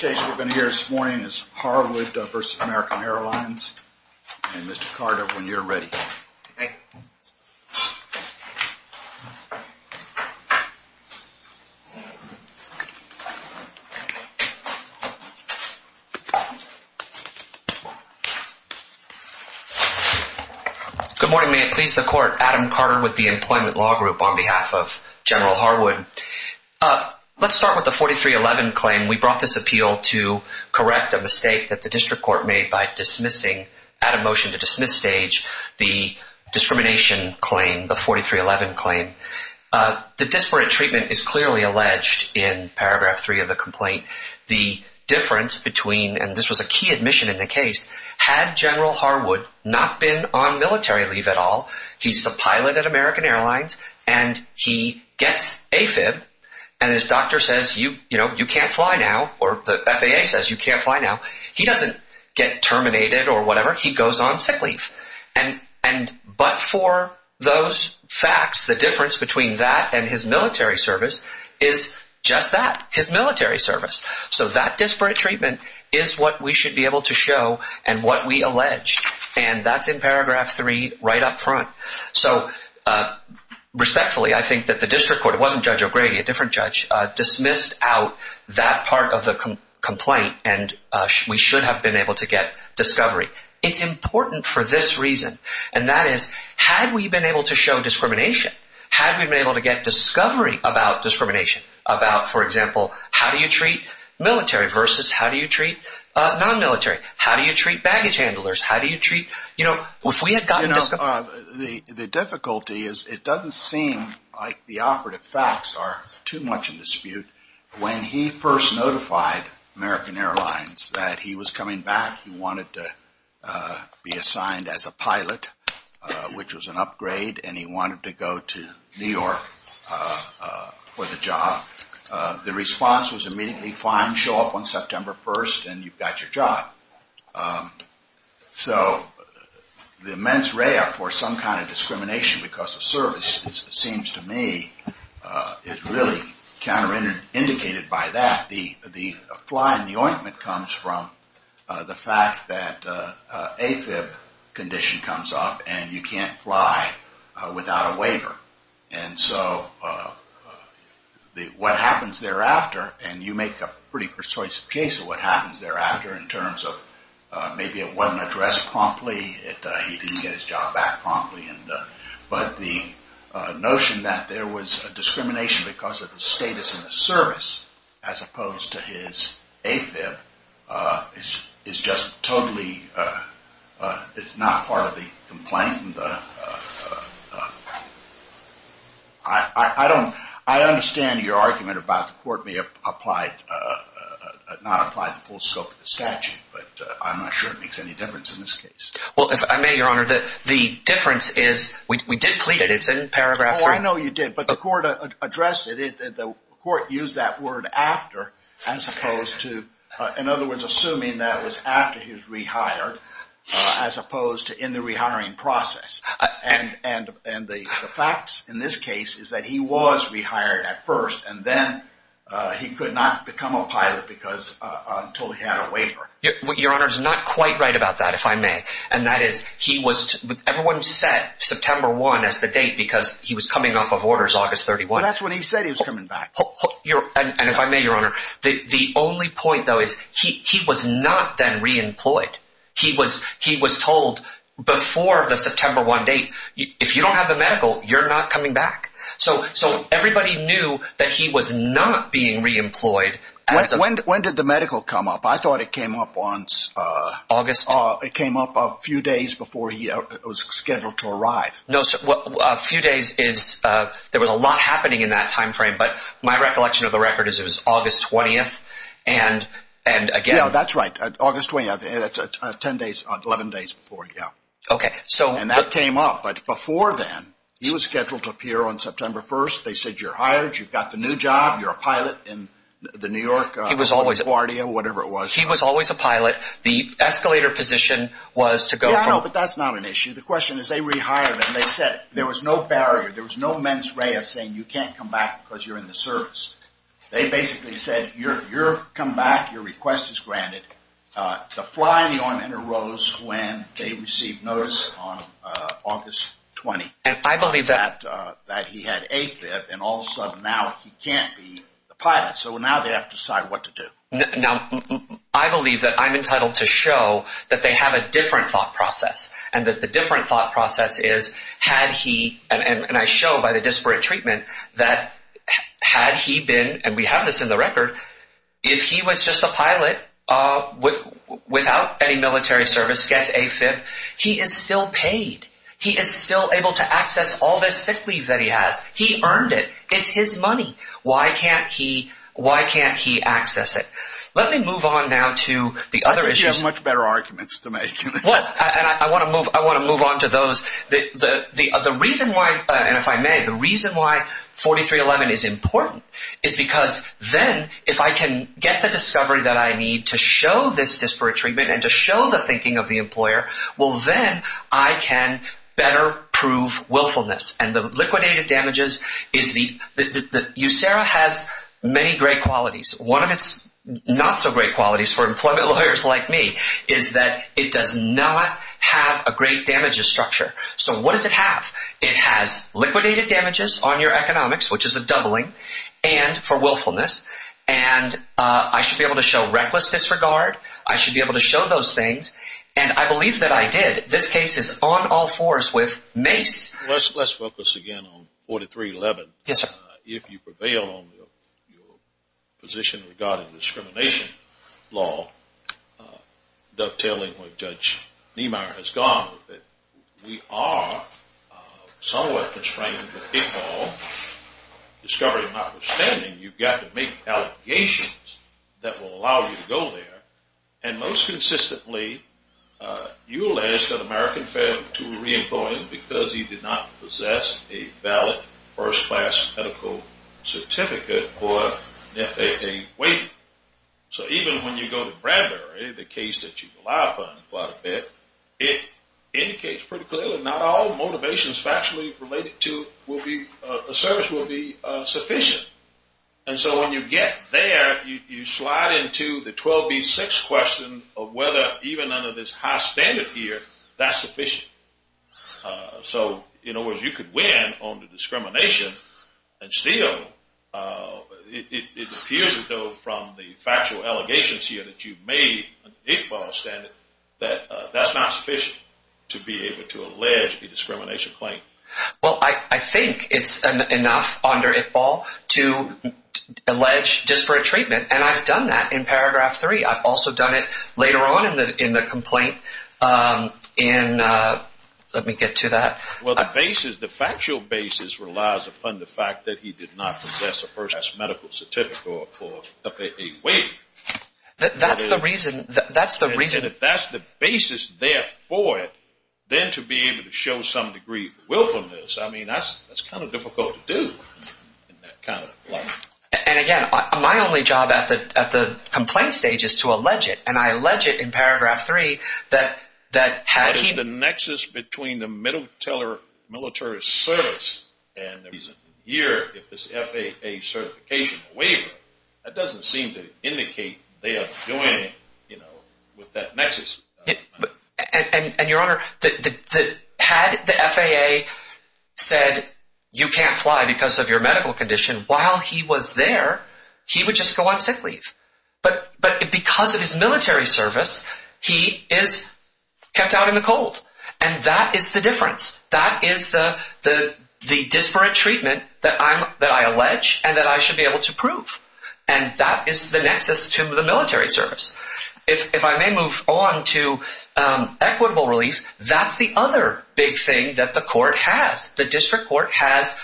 Good morning, may it please the Court. Adam Carter with the Employment Law Group on behalf of General Harwood. Let's start with the 4311 claim. We brought this appeal to correct a mistake that the District Court made by dismissing, at a motion to dismiss stage, the discrimination claim, the 4311 claim. The disparate treatment is clearly alleged in paragraph 3 of the complaint. The difference between, and this was a key admission in the case, had General Harwood not been on military leave at all, he's a pilot at American Airlines, and he gets AFIB, and his doctor says, you know, you can't fly now, or the FAA says you can't fly now, he doesn't get terminated or whatever, he goes on sick leave. But for those facts, the difference between that and his military service is just that, his military service. So that disparate treatment is what we should be able to show and what we allege, and that's in paragraph 3 right up front. So, respectfully, I think that the District Court, it wasn't Judge O'Grady, a different judge, dismissed out that part of the complaint, and we should have been able to get discovery. It's important for this reason, and that is, had we been able to show discrimination, had we been able to get discovery about discrimination, about, for example, how do you treat military versus how do you treat non-military? How do you treat baggage handlers? How do you treat, you know, if we had gotten... So, the immense rare for some kind of discrimination because of service, it seems to me, is really counterindicated by that. The fly in the ointment comes from the fact that AFIB condition comes up, and you can't fly without a waiver. And so, what happens thereafter, and you make a pretty persuasive case of what happens thereafter in terms of maybe it wasn't addressed promptly, he didn't get his job back promptly, but the notion that there was discrimination because of the status and the service, as opposed to his AFIB, is just totally, it's not part of the complaint. I don't, I understand your argument about the court may have applied, not applied the full scope of the statute, but I'm not sure it makes any difference in this case. Well, if I may, Your Honor, the difference is we did plead it. It's in paragraph three. In this case, is that he was rehired at first, and then he could not become a pilot because, until he had a waiver. Your Honor, it's not quite right about that, if I may. And that is, he was, everyone set September 1 as the date because he was coming off of orders August 31. Well, that's when he said he was coming back. And if I may, Your Honor, the only point, though, is he was not then reemployed. He was told before the September 1 date, if you don't have the medical, you're not coming back. So, everybody knew that he was not being reemployed. When did the medical come up? I thought it came up on August. It came up a few days before he was scheduled to arrive. A few days is, there was a lot happening in that time frame, but my recollection of the record is it was August 20, and again. Yeah, that's right, August 20, that's 10 days, 11 days before, yeah. Okay, so. And that came up, but before then, he was scheduled to appear on September 1. They said, you're hired, you've got the new job, you're a pilot in the New York, LaGuardia, whatever it was. He was always a pilot. The escalator position was to go from. No, but that's not an issue. The question is, they rehired him. They said there was no barrier, there was no mens rea saying you can't come back because you're in the service. They basically said, you're come back, your request is granted. The fly in the ointment arose when they received notice on August 20. And I believe that. That he had AFIB, and also now he can't be a pilot, so now they have to decide what to do. Now, I believe that I'm entitled to show that they have a different thought process, and that the different thought process is, had he, and I show by the disparate treatment, that had he been, and we have this in the record, if he was just a pilot without any military service, gets AFIB, he is still paid. He is still able to access all this sick leave that he has. He earned it. It's his money. Why can't he access it? Let me move on now to the other issues. You have much better arguments to make. I want to move on to those. The reason why, and if I may, the reason why 4311 is important is because then, if I can get the discovery that I need to show this disparate treatment and to show the thinking of the employer, well then, I can better prove willfulness. And the liquidated damages is the, USERA has many great qualities. One of its not so great qualities for employment lawyers like me is that it does not have a great damages structure. So what does it have? It has liquidated damages on your economics, which is a doubling, and for willfulness, and I should be able to show reckless disregard. I should be able to show those things, and I believe that I did. This case is on all fours with Mace. Let's focus again on 4311. Yes, sir. If you prevail on your position regarding discrimination law, dovetailing with Judge Niemeyer has gone with it. We are somewhat constrained with big law. Discovery, my understanding, you've got to make allegations that will allow you to go there, and most consistently, you allege that American failed to re-employ him because he did not possess a valid first-class medical certificate or an FAA waiver. So even when you go to Bradbury, the case that you rely upon quite a bit, it indicates pretty clearly not all motivations factually related to a service will be sufficient. And so when you get there, you slide into the 12B6 question of whether even under this high standard here, that's sufficient. So in other words, you could win on the discrimination and steal. It appears, though, from the factual allegations here that you've made an eight-ball standard, that that's not sufficient to be able to allege a discrimination claim. Well, I think it's enough under eight-ball to allege disparate treatment, and I've done that in paragraph three. I've also done it later on in the complaint. Let me get to that. Well, the factual basis relies upon the fact that he did not possess a first-class medical certificate or a FAA waiver. That's the reason. Then to be able to show some degree of willfulness, I mean, that's kind of difficult to do in that kind of light. And again, my only job at the complaint stage is to allege it, and I allege it in paragraph three that he… But it's the nexus between the middle-teller military service and the reason here if it's FAA certification or waiver. That doesn't seem to indicate they are joining with that nexus. And, Your Honor, had the FAA said you can't fly because of your medical condition while he was there, he would just go on sick leave. But because of his military service, he is kept out in the cold, and that is the difference. That is the disparate treatment that I allege and that I should be able to prove, and that is the nexus to the military service. If I may move on to equitable relief, that's the other big thing that the court has. The district court has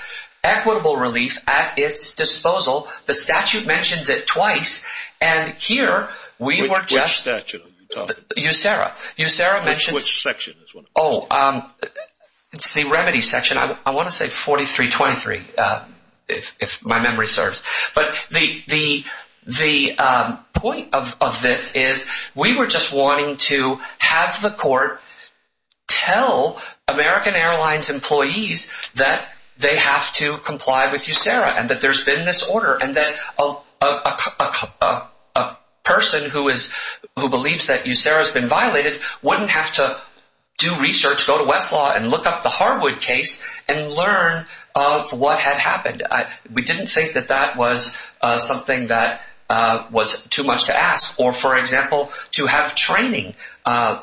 equitable relief at its disposal. The statute mentions it twice, and here we were just… Which statute are you talking about? USERA. USERA mentioned… It's the remedy section. I want to say 4323 if my memory serves. But the point of this is we were just wanting to have the court tell American Airlines employees that they have to comply with USERA and that there's been this order. And that a person who believes that USERA has been violated wouldn't have to do research, go to Westlaw and look up the Harwood case and learn of what had happened. We didn't think that that was something that was too much to ask or, for example, to have training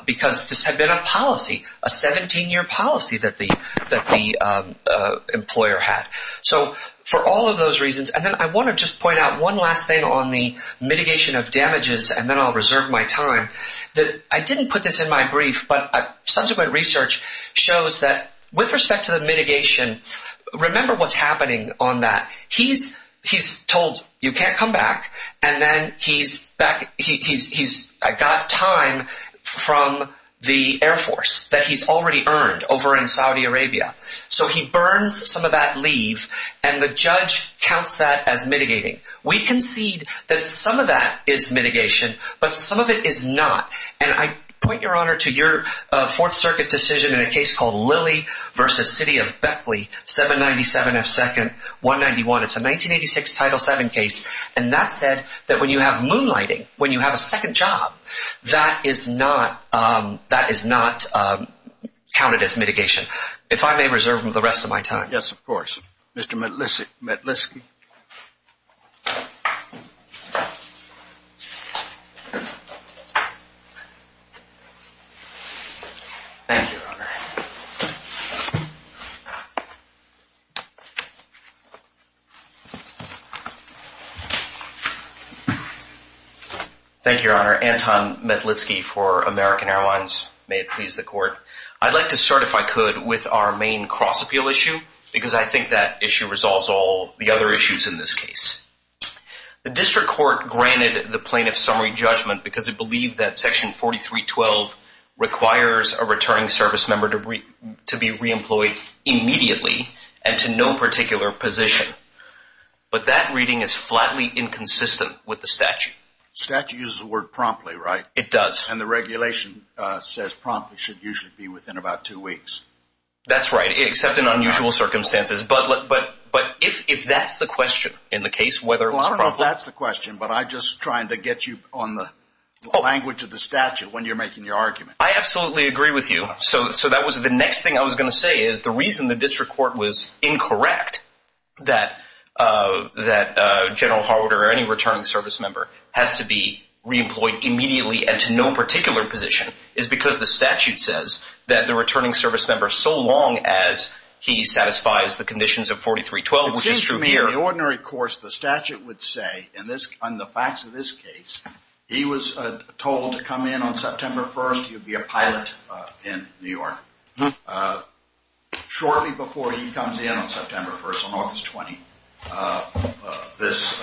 because this had been a policy, a 17-year policy that the employer had. So for all of those reasons… And then I want to just point out one last thing on the mitigation of damages, and then I'll reserve my time. I didn't put this in my brief, but subsequent research shows that with respect to the mitigation, remember what's happening on that. He's told you can't come back, and then he's got time from the Air Force that he's already earned over in Saudi Arabia. So he burns some of that leave, and the judge counts that as mitigating. We concede that some of that is mitigation, but some of it is not. And I point your honor to your Fourth Circuit decision in a case called Lilly v. City of Beckley, 797F2-191. It's a 1986 Title VII case, and that said that when you have moonlighting, when you have a second job, that is not counted as mitigation. If I may reserve the rest of my time. Yes, of course. Mr. Metlitsky. Thank you, your honor. Thank you, your honor. Anton Metlitsky for American Airlines. May it please the court. I'd like to start, if I could, with our main cross-appeal issue, because I think that issue resolves all the other issues in this case. The district court granted the plaintiff's summary judgment because it believed that Section 4312 requires a returning service member to be reemployed immediately and to no particular position. But that reading is flatly inconsistent with the statute. The statute uses the word promptly, right? It does. And the regulation says promptly should usually be within about two weeks. That's right, except in unusual circumstances. But if that's the question in the case, whether it was promptly... Well, I don't know if that's the question, but I'm just trying to get you on the language of the statute when you're making your argument. I absolutely agree with you. So that was the next thing I was going to say is the reason the district court was incorrect that General Harwood or any returning service member has to be reemployed immediately and to no particular position is because the statute says that the returning service member, so long as he satisfies the conditions of 4312, which is true here... Shortly before he comes in on September 1st, on August 20th, this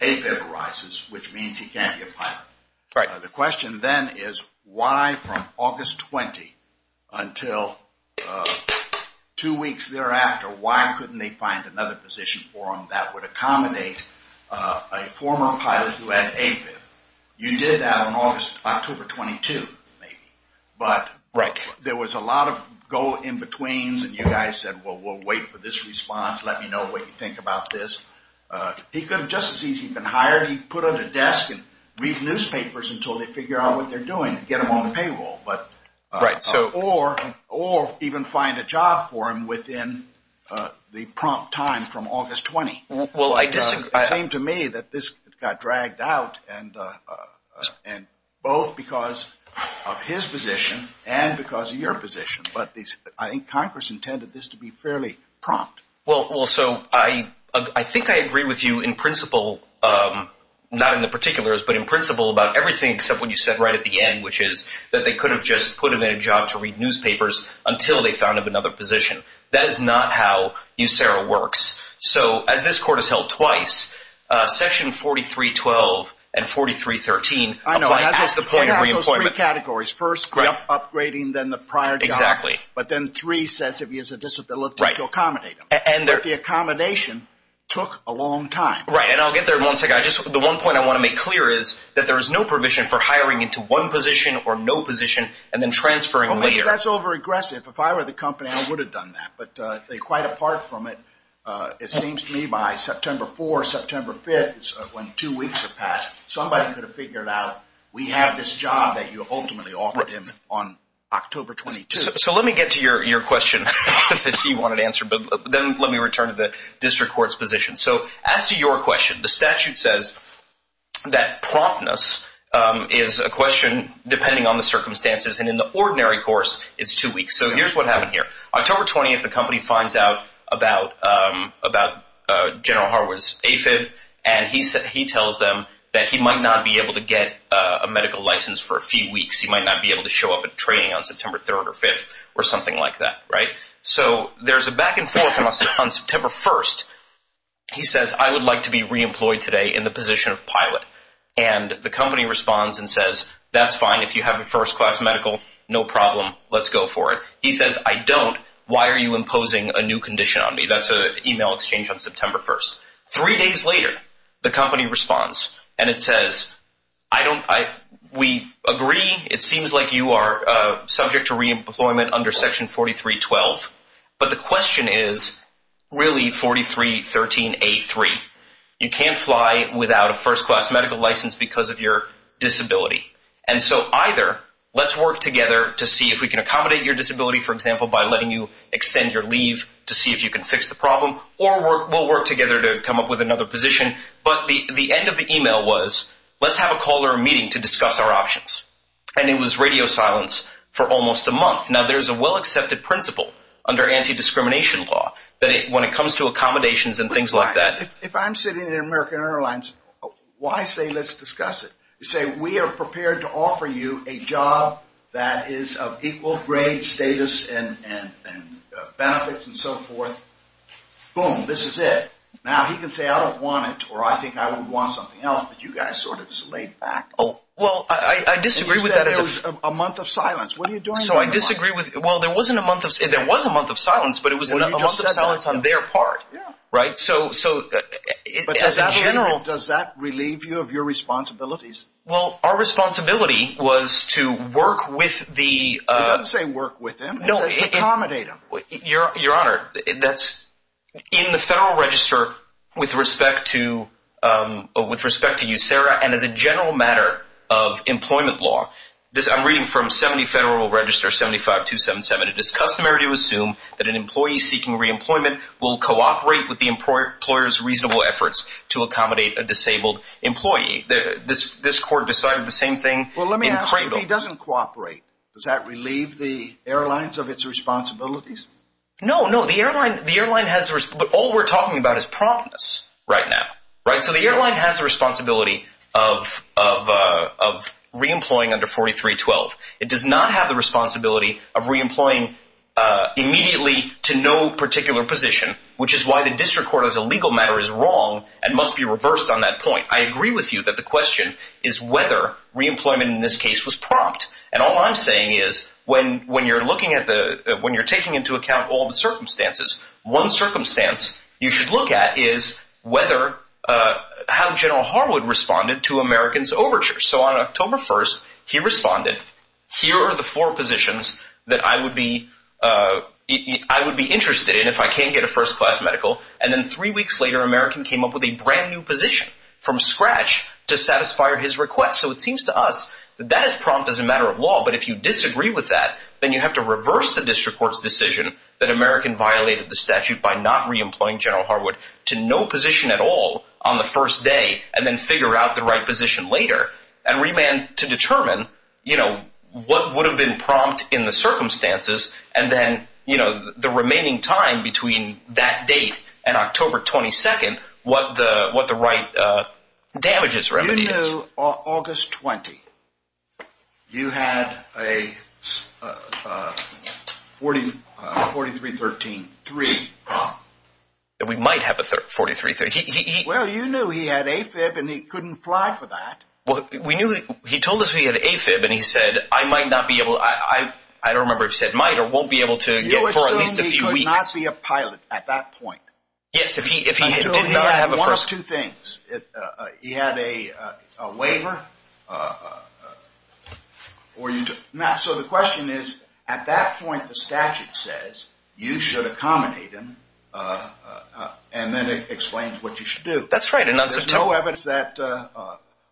APIV arises, which means he can't be a pilot. The question then is why from August 20th until two weeks thereafter, why couldn't they find another position for him that would accommodate a former pilot who had APIV? You did that on October 22, maybe. But there was a lot of go in-betweens and you guys said, well, we'll wait for this response. Let me know what you think about this. He could have just as easily been hired. He put on a desk and read newspapers until they figure out what they're doing and get them on payroll. Or even find a job for him within the prompt time from August 20. It seemed to me that this got dragged out, both because of his position and because of your position, but I think Congress intended this to be fairly prompt. I think I agree with you in principle, not in the particulars, but in principle about everything except what you said right at the end, which is that they could have just put him in a job to read newspapers until they found another position. That is not how USERRA works. So as this court has held twice, section 43.12 and 43.13. I know. It has those three categories. First, upgrading, then the prior job. Exactly. But then three says if he has a disability to accommodate him. Right. But the accommodation took a long time. Right. And I'll get there in one second. The one point I want to make clear is that there is no provision for hiring into one position or no position and then transferring later. That's overaggressive. If I were the company, I would have done that, but quite apart from it, it seems to me by September 4, September 5, when two weeks have passed, somebody could have figured out we have this job that you ultimately offered him on October 22. So let me get to your question, since you wanted to answer, but then let me return to the district court's position. So as to your question, the statute says that promptness is a question depending on the circumstances, and in the ordinary course, it's two weeks. So here's what happened here. October 20, the company finds out about General Harwood's AFIB, and he tells them that he might not be able to get a medical license for a few weeks. He might not be able to show up at training on September 3 or 5 or something like that. So there's a back and forth on September 1. He says, I would like to be reemployed today in the position of pilot, and the company responds and says, that's fine. If you have a first-class medical, no problem. Let's go for it. He says, I don't. Why are you imposing a new condition on me? That's an email exchange on September 1. Three days later, the company responds, and it says, we agree. It seems like you are subject to reemployment under Section 43.12. But the question is really 43.13.A.3. You can't fly without a first-class medical license because of your disability. And so either let's work together to see if we can accommodate your disability, for example, by letting you extend your leave to see if you can fix the problem, or we'll work together to come up with another position. But the end of the email was, let's have a call or a meeting to discuss our options. And it was radio silence for almost a month. Now, there's a well-accepted principle under anti-discrimination law that when it comes to accommodations and things like that. If I'm sitting in American Airlines, why say let's discuss it? You say, we are prepared to offer you a job that is of equal grade status and benefits and so forth. Boom, this is it. Now, he can say, I don't want it, or I think I would want something else, but you guys sort of just laid back. Well, I disagree with that. You said it was a month of silence. What are you doing? So I disagree with – well, there wasn't a month of – there was a month of silence, but it was a month of silence on their part. Yeah. Right? So – But as a general, does that relieve you of your responsibilities? Well, our responsibility was to work with the – I didn't say work with them. I said accommodate them. Your Honor, that's – in the Federal Register, with respect to you, Sarah, and as a general matter of employment law, I'm reading from 70 Federal Register 75277. It is customary to assume that an employee seeking reemployment will cooperate with the employer's reasonable efforts to accommodate a disabled employee. This Court decided the same thing in Cradle. Well, let me ask you, if he doesn't cooperate, does that relieve the airlines of its responsibilities? No, no. The airline has – but all we're talking about is promptness right now, right? So the airline has a responsibility of reemploying under 4312. It does not have the responsibility of reemploying immediately to no particular position, which is why the District Court, as a legal matter, is wrong and must be reversed on that point. I agree with you that the question is whether reemployment in this case was prompt. And all I'm saying is when you're looking at the – when you're taking into account all the circumstances, one circumstance you should look at is whether – how General Harwood responded to Americans' overtures. So on October 1st, he responded, here are the four positions that I would be interested in if I can't get a first-class medical. And then three weeks later, American came up with a brand-new position from scratch to satisfy his request. So it seems to us that that is prompt as a matter of law. But if you disagree with that, then you have to reverse the District Court's decision that American violated the statute by not reemploying General Harwood to no position at all on the first day, and then figure out the right position later and remand to determine, you know, what would have been prompt in the circumstances. And then, you know, the remaining time between that date and October 22nd, what the right damages remedy is. You knew August 20. You had a 43-13-3 prompt. We might have a 43-13-3. Well, you knew he had AFib, and he couldn't fly for that. We knew – he told us he had AFib, and he said, I might not be able – I don't remember if he said might or won't be able to get for at least a few weeks. You assumed he could not be a pilot at that point. Yes, if he did not have a first – There's no evidence that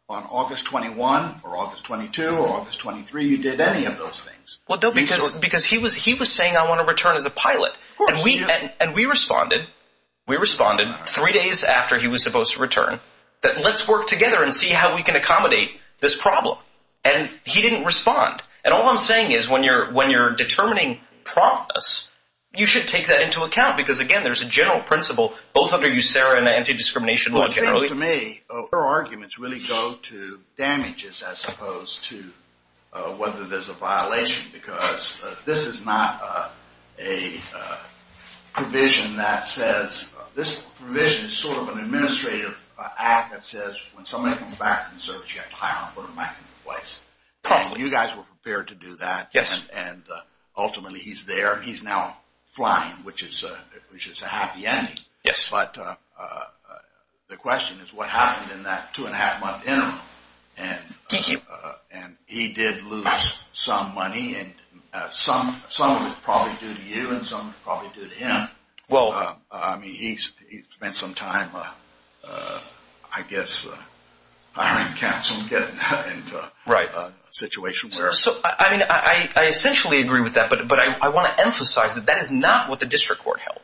on August 21 or August 22 or August 23 you did any of those things. Well, no, because he was saying, I want to return as a pilot. And we responded – we responded three days after he was supposed to return that let's work together and see how we can accommodate this problem. And he didn't respond. And all I'm saying is when you're determining promptness, you should take that into account because, again, there's a general principle both under USERRA and anti-discrimination laws. Well, it seems to me your arguments really go to damages as opposed to whether there's a violation because this is not a provision that says – You guys were prepared to do that. Yes. And ultimately he's there. He's now flying, which is a happy ending. Yes. But the question is what happened in that two-and-a-half-month interval. Thank you. And he did lose some money and some of it was probably due to you and some of it was probably due to him. Well – I mean, he spent some time, I guess, hiring counsel and getting into a situation where – Right. So, I mean, I essentially agree with that, but I want to emphasize that that is not what the district court held.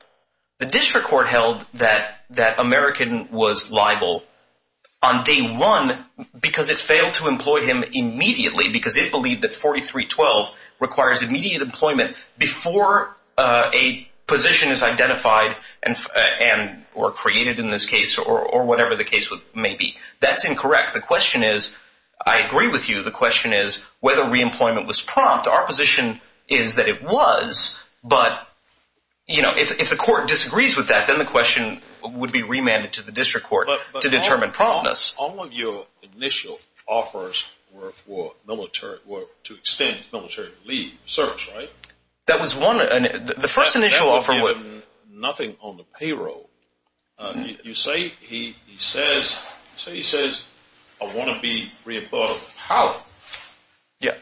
The district court held that American was liable on day one because it failed to employ him immediately because it believed that 4312 requires immediate employment before a position is identified and – or created in this case or whatever the case may be. That's incorrect. The question is – I agree with you. The question is whether reemployment was prompt. Our position is that it was, but, you know, if the court disagrees with that, then the question would be remanded to the district court to determine promptness. But all of your initial offers were for military – were to extend military leave, service, right? That was one – the first initial offer was – That would give him nothing on the payroll. You say he says – you say he says, I want to be reemployed. How? Yeah.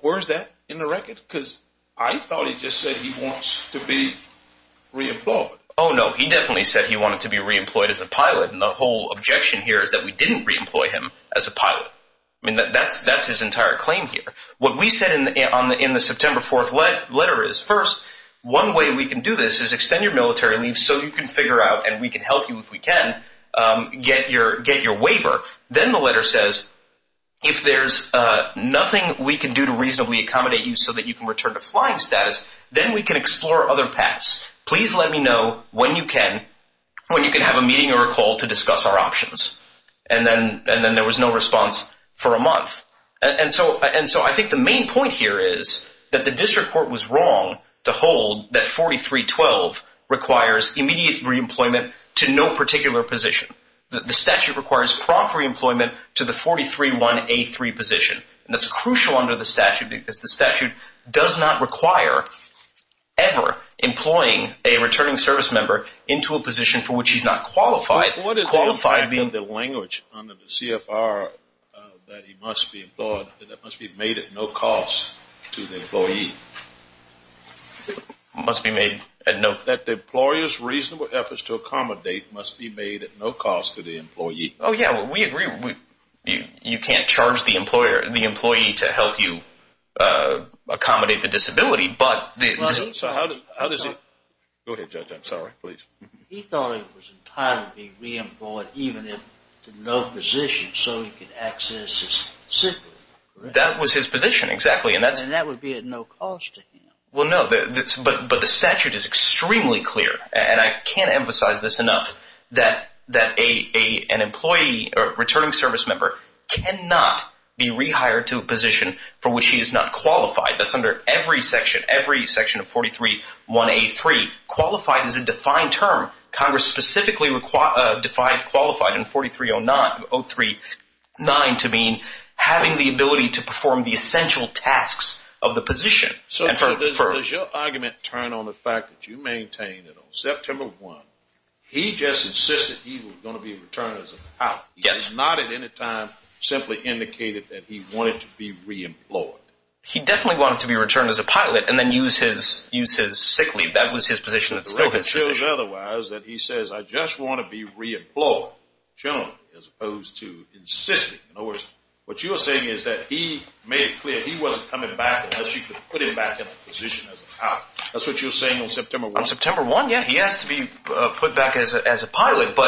Where is that in the record? Because I thought he just said he wants to be reemployed. Oh, no. He definitely said he wanted to be reemployed as a pilot, and the whole objection here is that we didn't reemploy him as a pilot. I mean, that's his entire claim here. What we said in the September 4th letter is, first, one way we can do this is extend your military leave so you can figure out, and we can help you if we can, get your waiver. Then the letter says, if there's nothing we can do to reasonably accommodate you so that you can return to flying status, then we can explore other paths. Please let me know when you can – when you can have a meeting or a call to discuss our options. And then there was no response for a month. And so I think the main point here is that the district court was wrong to hold that 43-12 requires immediate reemployment to no particular position. The statute requires prompt reemployment to the 43-1A3 position. And that's crucial under the statute because the statute does not require ever employing a returning service member into a position for which he's not qualified. What is the impact of the language under the CFR that he must be employed – that must be made at no cost to the employee? Must be made at no – That the employer's reasonable efforts to accommodate must be made at no cost to the employee. Oh, yeah, we agree. You can't charge the employer – the employee to help you accommodate the disability, but the – So how does he – go ahead, Judge. I'm sorry. Go ahead, please. He thought he was entitled to be reemployed even if to no position so he could access his sibling. That was his position, exactly, and that's – And that would be at no cost to him. Well, no, but the statute is extremely clear, and I can't emphasize this enough, that an employee or returning service member cannot be rehired to a position for which he is not qualified. That's under every section, every section of 431A3. Qualified is a defined term. Congress specifically defined qualified in 4309 to mean having the ability to perform the essential tasks of the position. So does your argument turn on the fact that you maintain that on September 1, he just insisted he was going to be returned as an out? Yes. He did not at any time simply indicated that he wanted to be reemployed. He definitely wanted to be returned as a pilot and then use his sick leave. That was his position. The record shows otherwise, that he says, I just want to be reemployed, generally, as opposed to insisting. In other words, what you're saying is that he made it clear he wasn't coming back unless you could put him back in a position as an out. That's what you're saying on September 1? On September 1, yeah, he has to be put back as a pilot,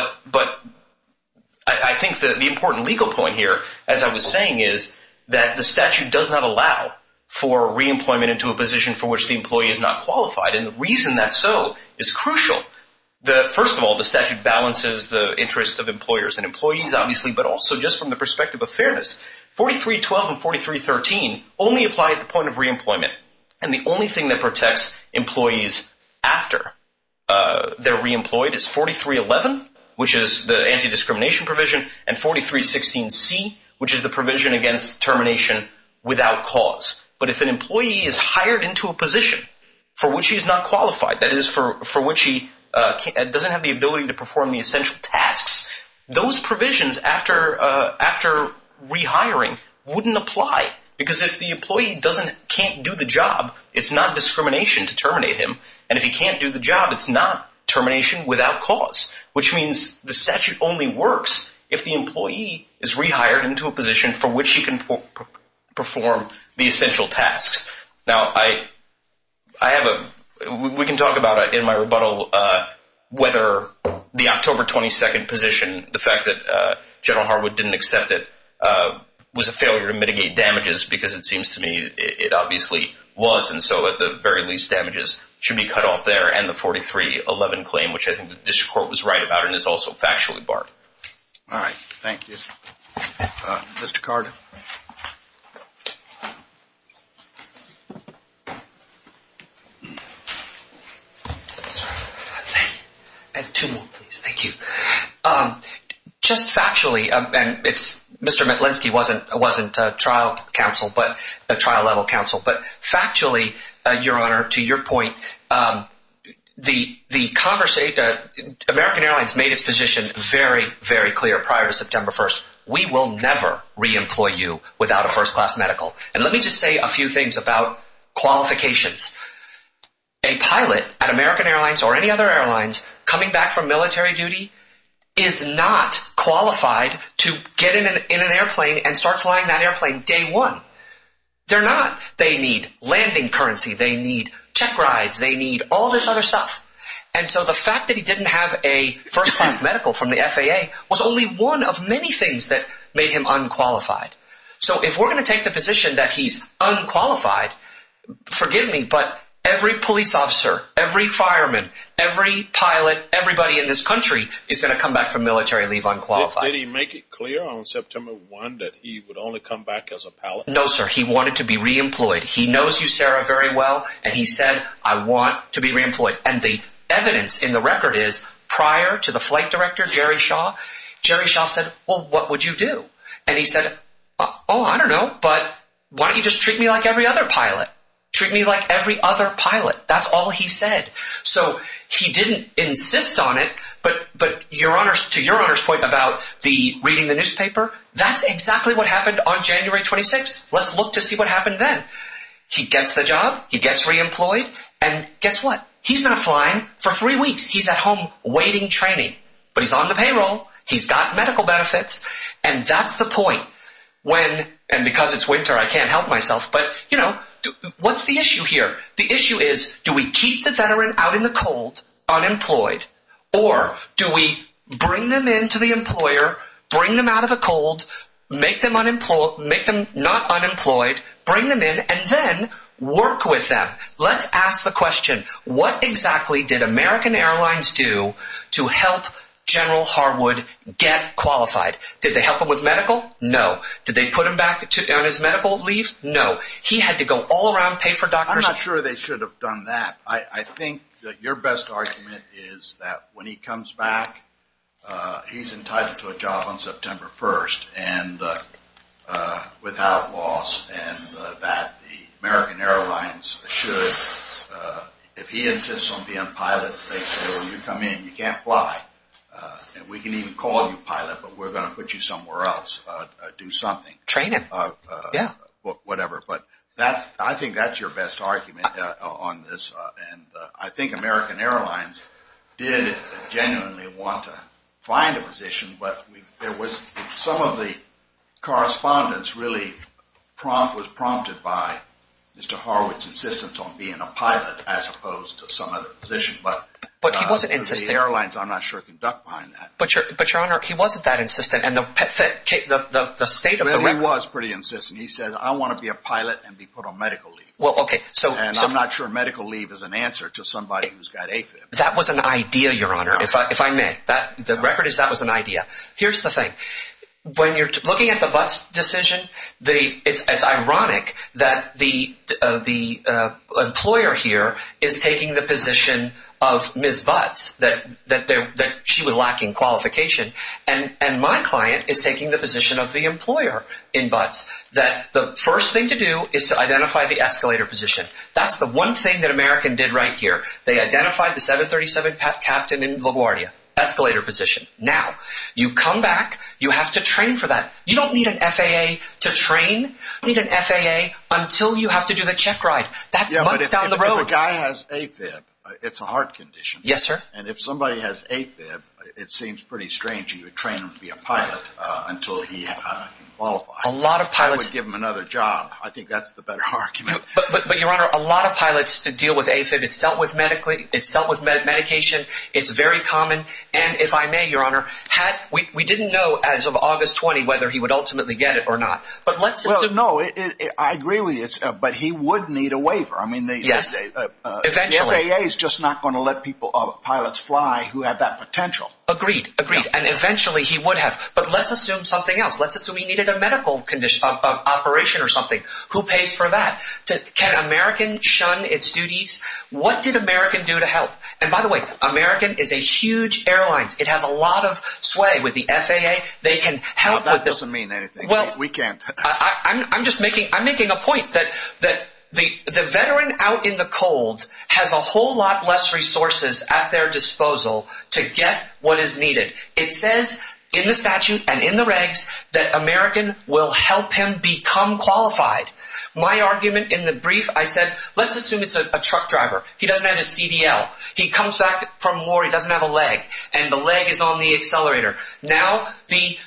I think the important legal point here, as I was saying, is that the statute does not allow for reemployment into a position for which the employee is not qualified. And the reason that's so is crucial. First of all, the statute balances the interests of employers and employees, obviously, but also just from the perspective of fairness. 4312 and 4313 only apply at the point of reemployment. And the only thing that protects employees after they're reemployed is 4311, which is the anti-discrimination provision, and 4316C, which is the provision against termination without cause. But if an employee is hired into a position for which he's not qualified, that is, for which he doesn't have the ability to perform the essential tasks, those provisions after rehiring wouldn't apply. Because if the employee can't do the job, it's not discrimination to terminate him. And if he can't do the job, it's not termination without cause, which means the statute only works if the employee is rehired into a position for which he can perform the essential tasks. Now, I have a – we can talk about it in my rebuttal whether the October 22nd position, the fact that General Harwood didn't accept it, was a failure to mitigate damages, because it seems to me it obviously was. And so at the very least, damages should be cut off there, and the 4311 claim, which I think the district court was right about and is also factually barred. All right. Thank you. Mr. Carter. Two more, please. Thank you. Just factually, and it's – Mr. Metlinsky wasn't trial counsel, but – trial-level counsel, but factually, Your Honor, to your point, the Congress – American Airlines made its position very, very clear prior to September 1st. We will never re-employ you without a first-class medical. And let me just say a few things about qualifications. A pilot at American Airlines or any other airlines coming back from military duty is not qualified to get in an airplane and start flying that airplane day one. They're not. They need landing currency, they need check rides, they need all this other stuff. And so the fact that he didn't have a first-class medical from the FAA was only one of many things that made him unqualified. So if we're going to take the position that he's unqualified, forgive me, but every police officer, every fireman, every pilot, everybody in this country is going to come back from military leave unqualified. Did he make it clear on September 1 that he would only come back as a pilot? No, sir. He wanted to be re-employed. He knows you, Sarah, very well, and he said, I want to be re-employed. And the evidence in the record is prior to the flight director, Jerry Shaw, Jerry Shaw said, well, what would you do? And he said, oh, I don't know, but why don't you just treat me like every other pilot? Treat me like every other pilot. That's all he said. So he didn't insist on it, but to your Honor's point about reading the newspaper, that's exactly what happened on January 26th. Let's look to see what happened then. He gets the job, he gets re-employed, and guess what? He's been flying for three weeks. He's at home waiting training. But he's on the payroll, he's got medical benefits, and that's the point. And because it's winter, I can't help myself, but, you know, what's the issue here? The issue is do we keep the veteran out in the cold, unemployed, or do we bring them in to the employer, bring them out of the cold, make them not unemployed, bring them in, and then work with them? Let's ask the question, what exactly did American Airlines do to help General Harwood get qualified? Did they help him with medical? No. Did they put him back on his medical leave? No. He had to go all around, pay for doctors? I'm not sure they should have done that. I think that your best argument is that when he comes back, he's entitled to a job on September 1st without loss, and that the American Airlines should, if he insists on being a pilot, they say, you can't fly, and we can even call you pilot, but we're going to put you somewhere else, do something. Training. Yeah. Whatever. But I think that's your best argument on this, and I think American Airlines did genuinely want to find a position, but some of the correspondence really was prompted by Mr. Harwood's insistence on being a pilot as opposed to some other position. But he wasn't insistent. The airlines, I'm not sure, can duck behind that. But, Your Honor, he wasn't that insistent, and the state of the record. Well, he was pretty insistent. He said, I want to be a pilot and be put on medical leave. Well, okay. And I'm not sure medical leave is an answer to somebody who's got AFib. That was an idea, Your Honor, if I may. The record is that was an idea. Here's the thing. When you're looking at the Butts decision, it's ironic that the employer here is taking the position of Ms. Butts, that she was lacking qualification, and my client is taking the position of the employer in Butts, that the first thing to do is to identify the escalator position. That's the one thing that American did right here. They identified the 737 captain in LaGuardia, escalator position. Now, you come back, you have to train for that. You don't need an FAA to train. You don't need an FAA until you have to do the checkride. That's months down the road. Yeah, but if a guy has AFib, it's a heart condition. Yes, sir. And if somebody has AFib, it seems pretty strange that you would train them to be a pilot until he can qualify. A lot of pilots… I would give them another job. I think that's the better argument. But, Your Honor, a lot of pilots deal with AFib. It's dealt with medication. It's very common. And, if I may, Your Honor, we didn't know as of August 20 whether he would ultimately get it or not. But let's assume… Well, no, I agree with you, but he would need a waiver. Yes, eventually. The FAA is just not going to let pilots fly who have that potential. Agreed, agreed, and eventually he would have. But let's assume something else. Let's assume he needed a medical operation or something. Who pays for that? Can American shun its duties? What did American do to help? And, by the way, American is a huge airline. It has a lot of sway with the FAA. They can help… That doesn't mean anything. We can't… I'm just making a point that the veteran out in the cold has a whole lot less resources at their disposal to get what is needed. It says in the statute and in the regs that American will help him become qualified. My argument in the brief, I said, let's assume it's a truck driver. He doesn't have a CDL. He comes back from war. He doesn't have a leg, and the leg is on the accelerator. Now the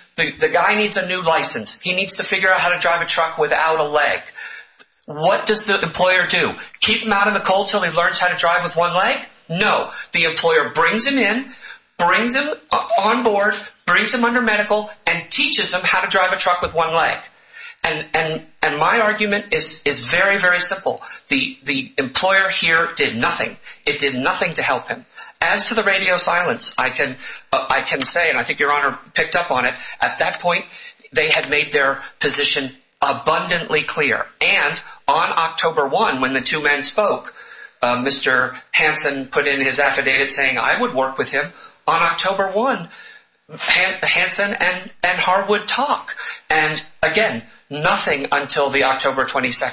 guy needs a new license. He needs to figure out how to drive a truck without a leg. What does the employer do? Keep him out in the cold until he learns how to drive with one leg? No. The employer brings him in, brings him on board, brings him under medical, and teaches him how to drive a truck with one leg. And my argument is very, very simple. The employer here did nothing. It did nothing to help him. As to the radio silence, I can say, and I think Your Honor picked up on it, at that point they had made their position abundantly clear. And on October 1, when the two men spoke, Mr. Hansen put in his affidavit saying I would work with him on October 1. Hansen and Hart would talk. And, again, nothing until the October 22.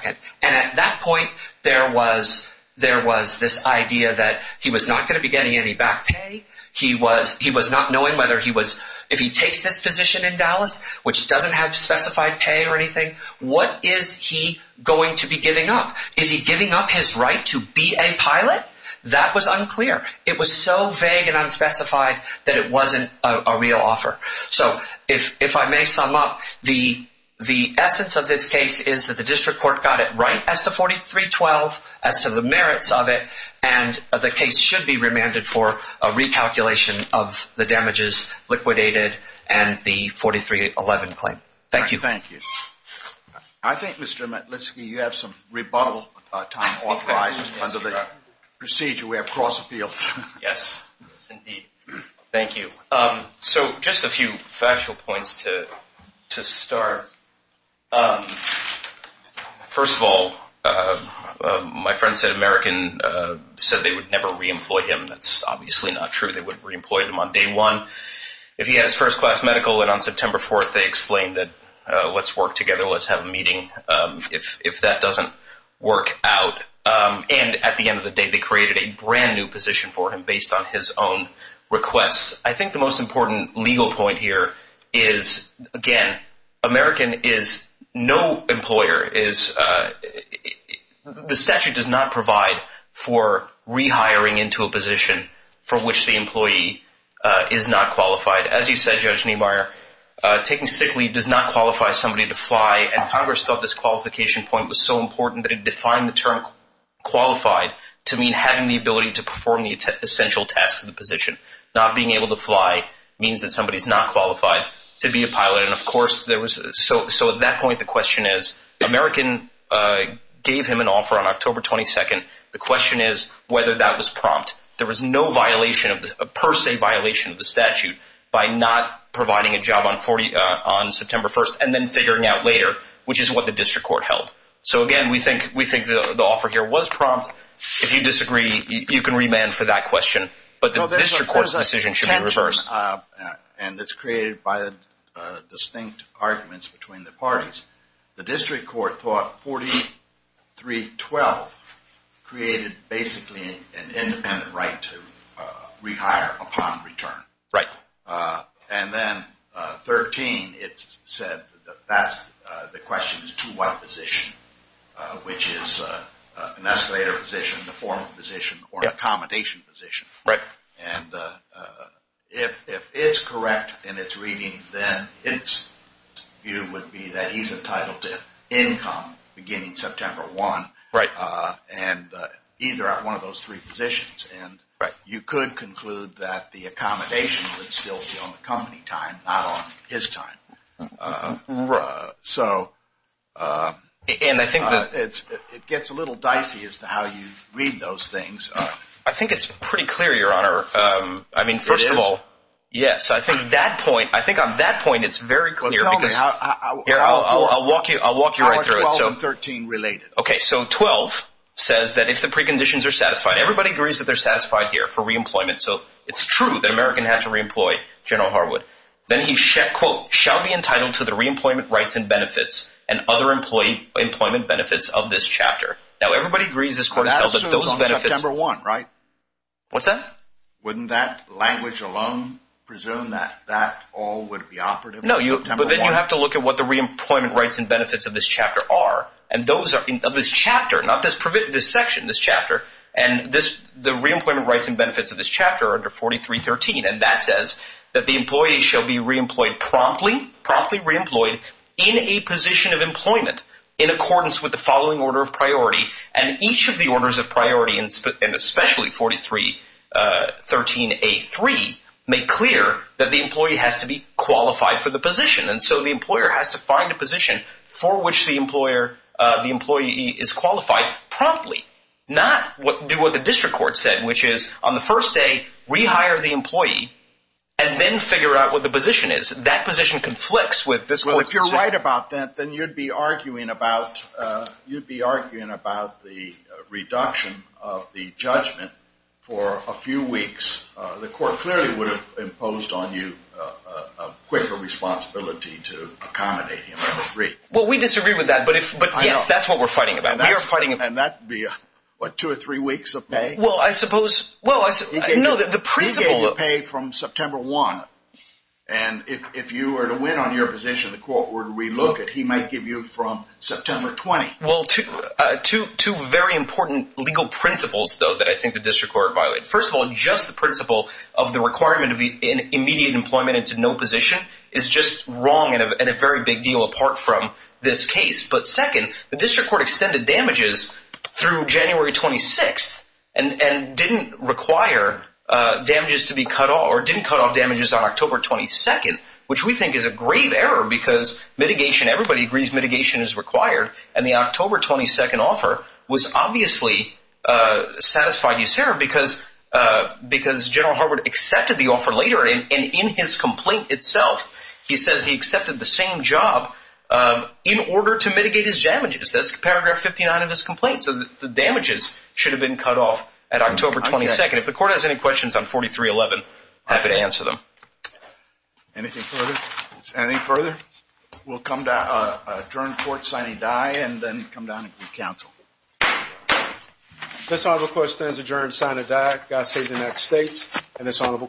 And at that point there was this idea that he was not going to be getting any back pay. He was not knowing whether he was, if he takes this position in Dallas, which doesn't have specified pay or anything, what is he going to be giving up? Is he giving up his right to be a pilot? That was unclear. It was so vague and unspecified that it wasn't a real offer. So if I may sum up, the essence of this case is that the district court got it right as to 43-12, as to the merits of it, and the case should be remanded for a recalculation of the damages liquidated and the 43-11 claim. Thank you. Thank you. I think, Mr. Matlitsky, you have some rebuttal time authorized under the procedure. We have cross appeals. Yes, indeed. Thank you. So just a few factual points to start. First of all, my friend said American said they would never re-employ him. That's obviously not true. They wouldn't re-employ him on day one. If he has first-class medical, then on September 4th they explained that let's work together, let's have a meeting. If that doesn't work out, and at the end of the day they created a brand new position for him based on his own requests. I think the most important legal point here is, again, American is no employer. The statute does not provide for rehiring into a position for which the employee is not qualified. As you said, Judge Niemeyer, taking sick leave does not qualify somebody to fly, and Congress thought this qualification point was so important that it defined the term qualified to mean having the ability to perform the essential tasks of the position, not being able to fly means that somebody is not qualified to be a pilot. So at that point the question is, American gave him an offer on October 22nd. The question is whether that was prompt. There was no per se violation of the statute by not providing a job on September 1st and then figuring out later, which is what the district court held. So, again, we think the offer here was prompt. If you disagree, you can remand for that question. But the district court's decision should be reversed. And it's created by distinct arguments between the parties. The district court thought 4312 created basically an independent right to rehire upon return. Right. And then 13, it said that the question is to what position, which is an escalator position, the formal position, or accommodation position. Right. And if it's correct in its reading, then its view would be that he's entitled to income beginning September 1. Right. And either at one of those three positions. Right. You could conclude that the accommodation would still be on the company time, not on his time. So it gets a little dicey as to how you read those things. I think it's pretty clear, Your Honor. It is? Yes. I think on that point it's very clear. Well, tell me. I'll walk you right through it. How are 12 and 13 related? Okay. So 12 says that if the preconditions are satisfied. Everybody agrees that they're satisfied here for reemployment. So it's true that American had to reemploy General Harwood. Then he, quote, shall be entitled to the reemployment rights and benefits and other employment benefits of this chapter. Now, everybody agrees this court has held that those benefits. I assume it's on September 1, right? What's that? Wouldn't that language alone presume that that all would be operative on September 1? No, but then you have to look at what the reemployment rights and benefits of this chapter are. And those are of this chapter, not this section, this chapter. And the reemployment rights and benefits of this chapter are under 43.13. And that says that the employee shall be reemployed promptly, promptly reemployed in a position of employment in accordance with the following order of priority. And each of the orders of priority, and especially 43.13a.3, make clear that the employee has to be qualified for the position. And so the employer has to find a position for which the employee is qualified promptly, not do what the district court said, which is on the first day rehire the employee and then figure out what the position is. That position conflicts with this court's decision. Well, if you're right about that, then you'd be arguing about the reduction of the judgment for a few weeks. The court clearly would have imposed on you a quicker responsibility to accommodate him, I would agree. Well, we disagree with that, but yes, that's what we're fighting about. And that would be, what, two or three weeks of pay? Well, I suppose, well, no, the principle of – He gave you pay from September 1. And if you were to win on your position, the court would relook at he might give you from September 20. Well, two very important legal principles, though, that I think the district court violated. First of all, just the principle of the requirement of immediate employment into no position is just wrong and a very big deal apart from this case. But second, the district court extended damages through January 26 and didn't require damages to be cut off or didn't cut off damages on October 22, which we think is a grave error because mitigation, everybody agrees mitigation is required, and the October 22 offer was obviously a satisfied use error because General Harwood accepted the offer later, and in his complaint itself, he says he accepted the same job in order to mitigate his damages. That's paragraph 59 of his complaint. So the damages should have been cut off at October 22. If the court has any questions on 4311, happy to answer them. Anything further? Anything further? We'll come to adjourn court, sign a die, and then come down and do counsel. This honorable court stands adjourned, sign a die. God save the United States and this honorable court.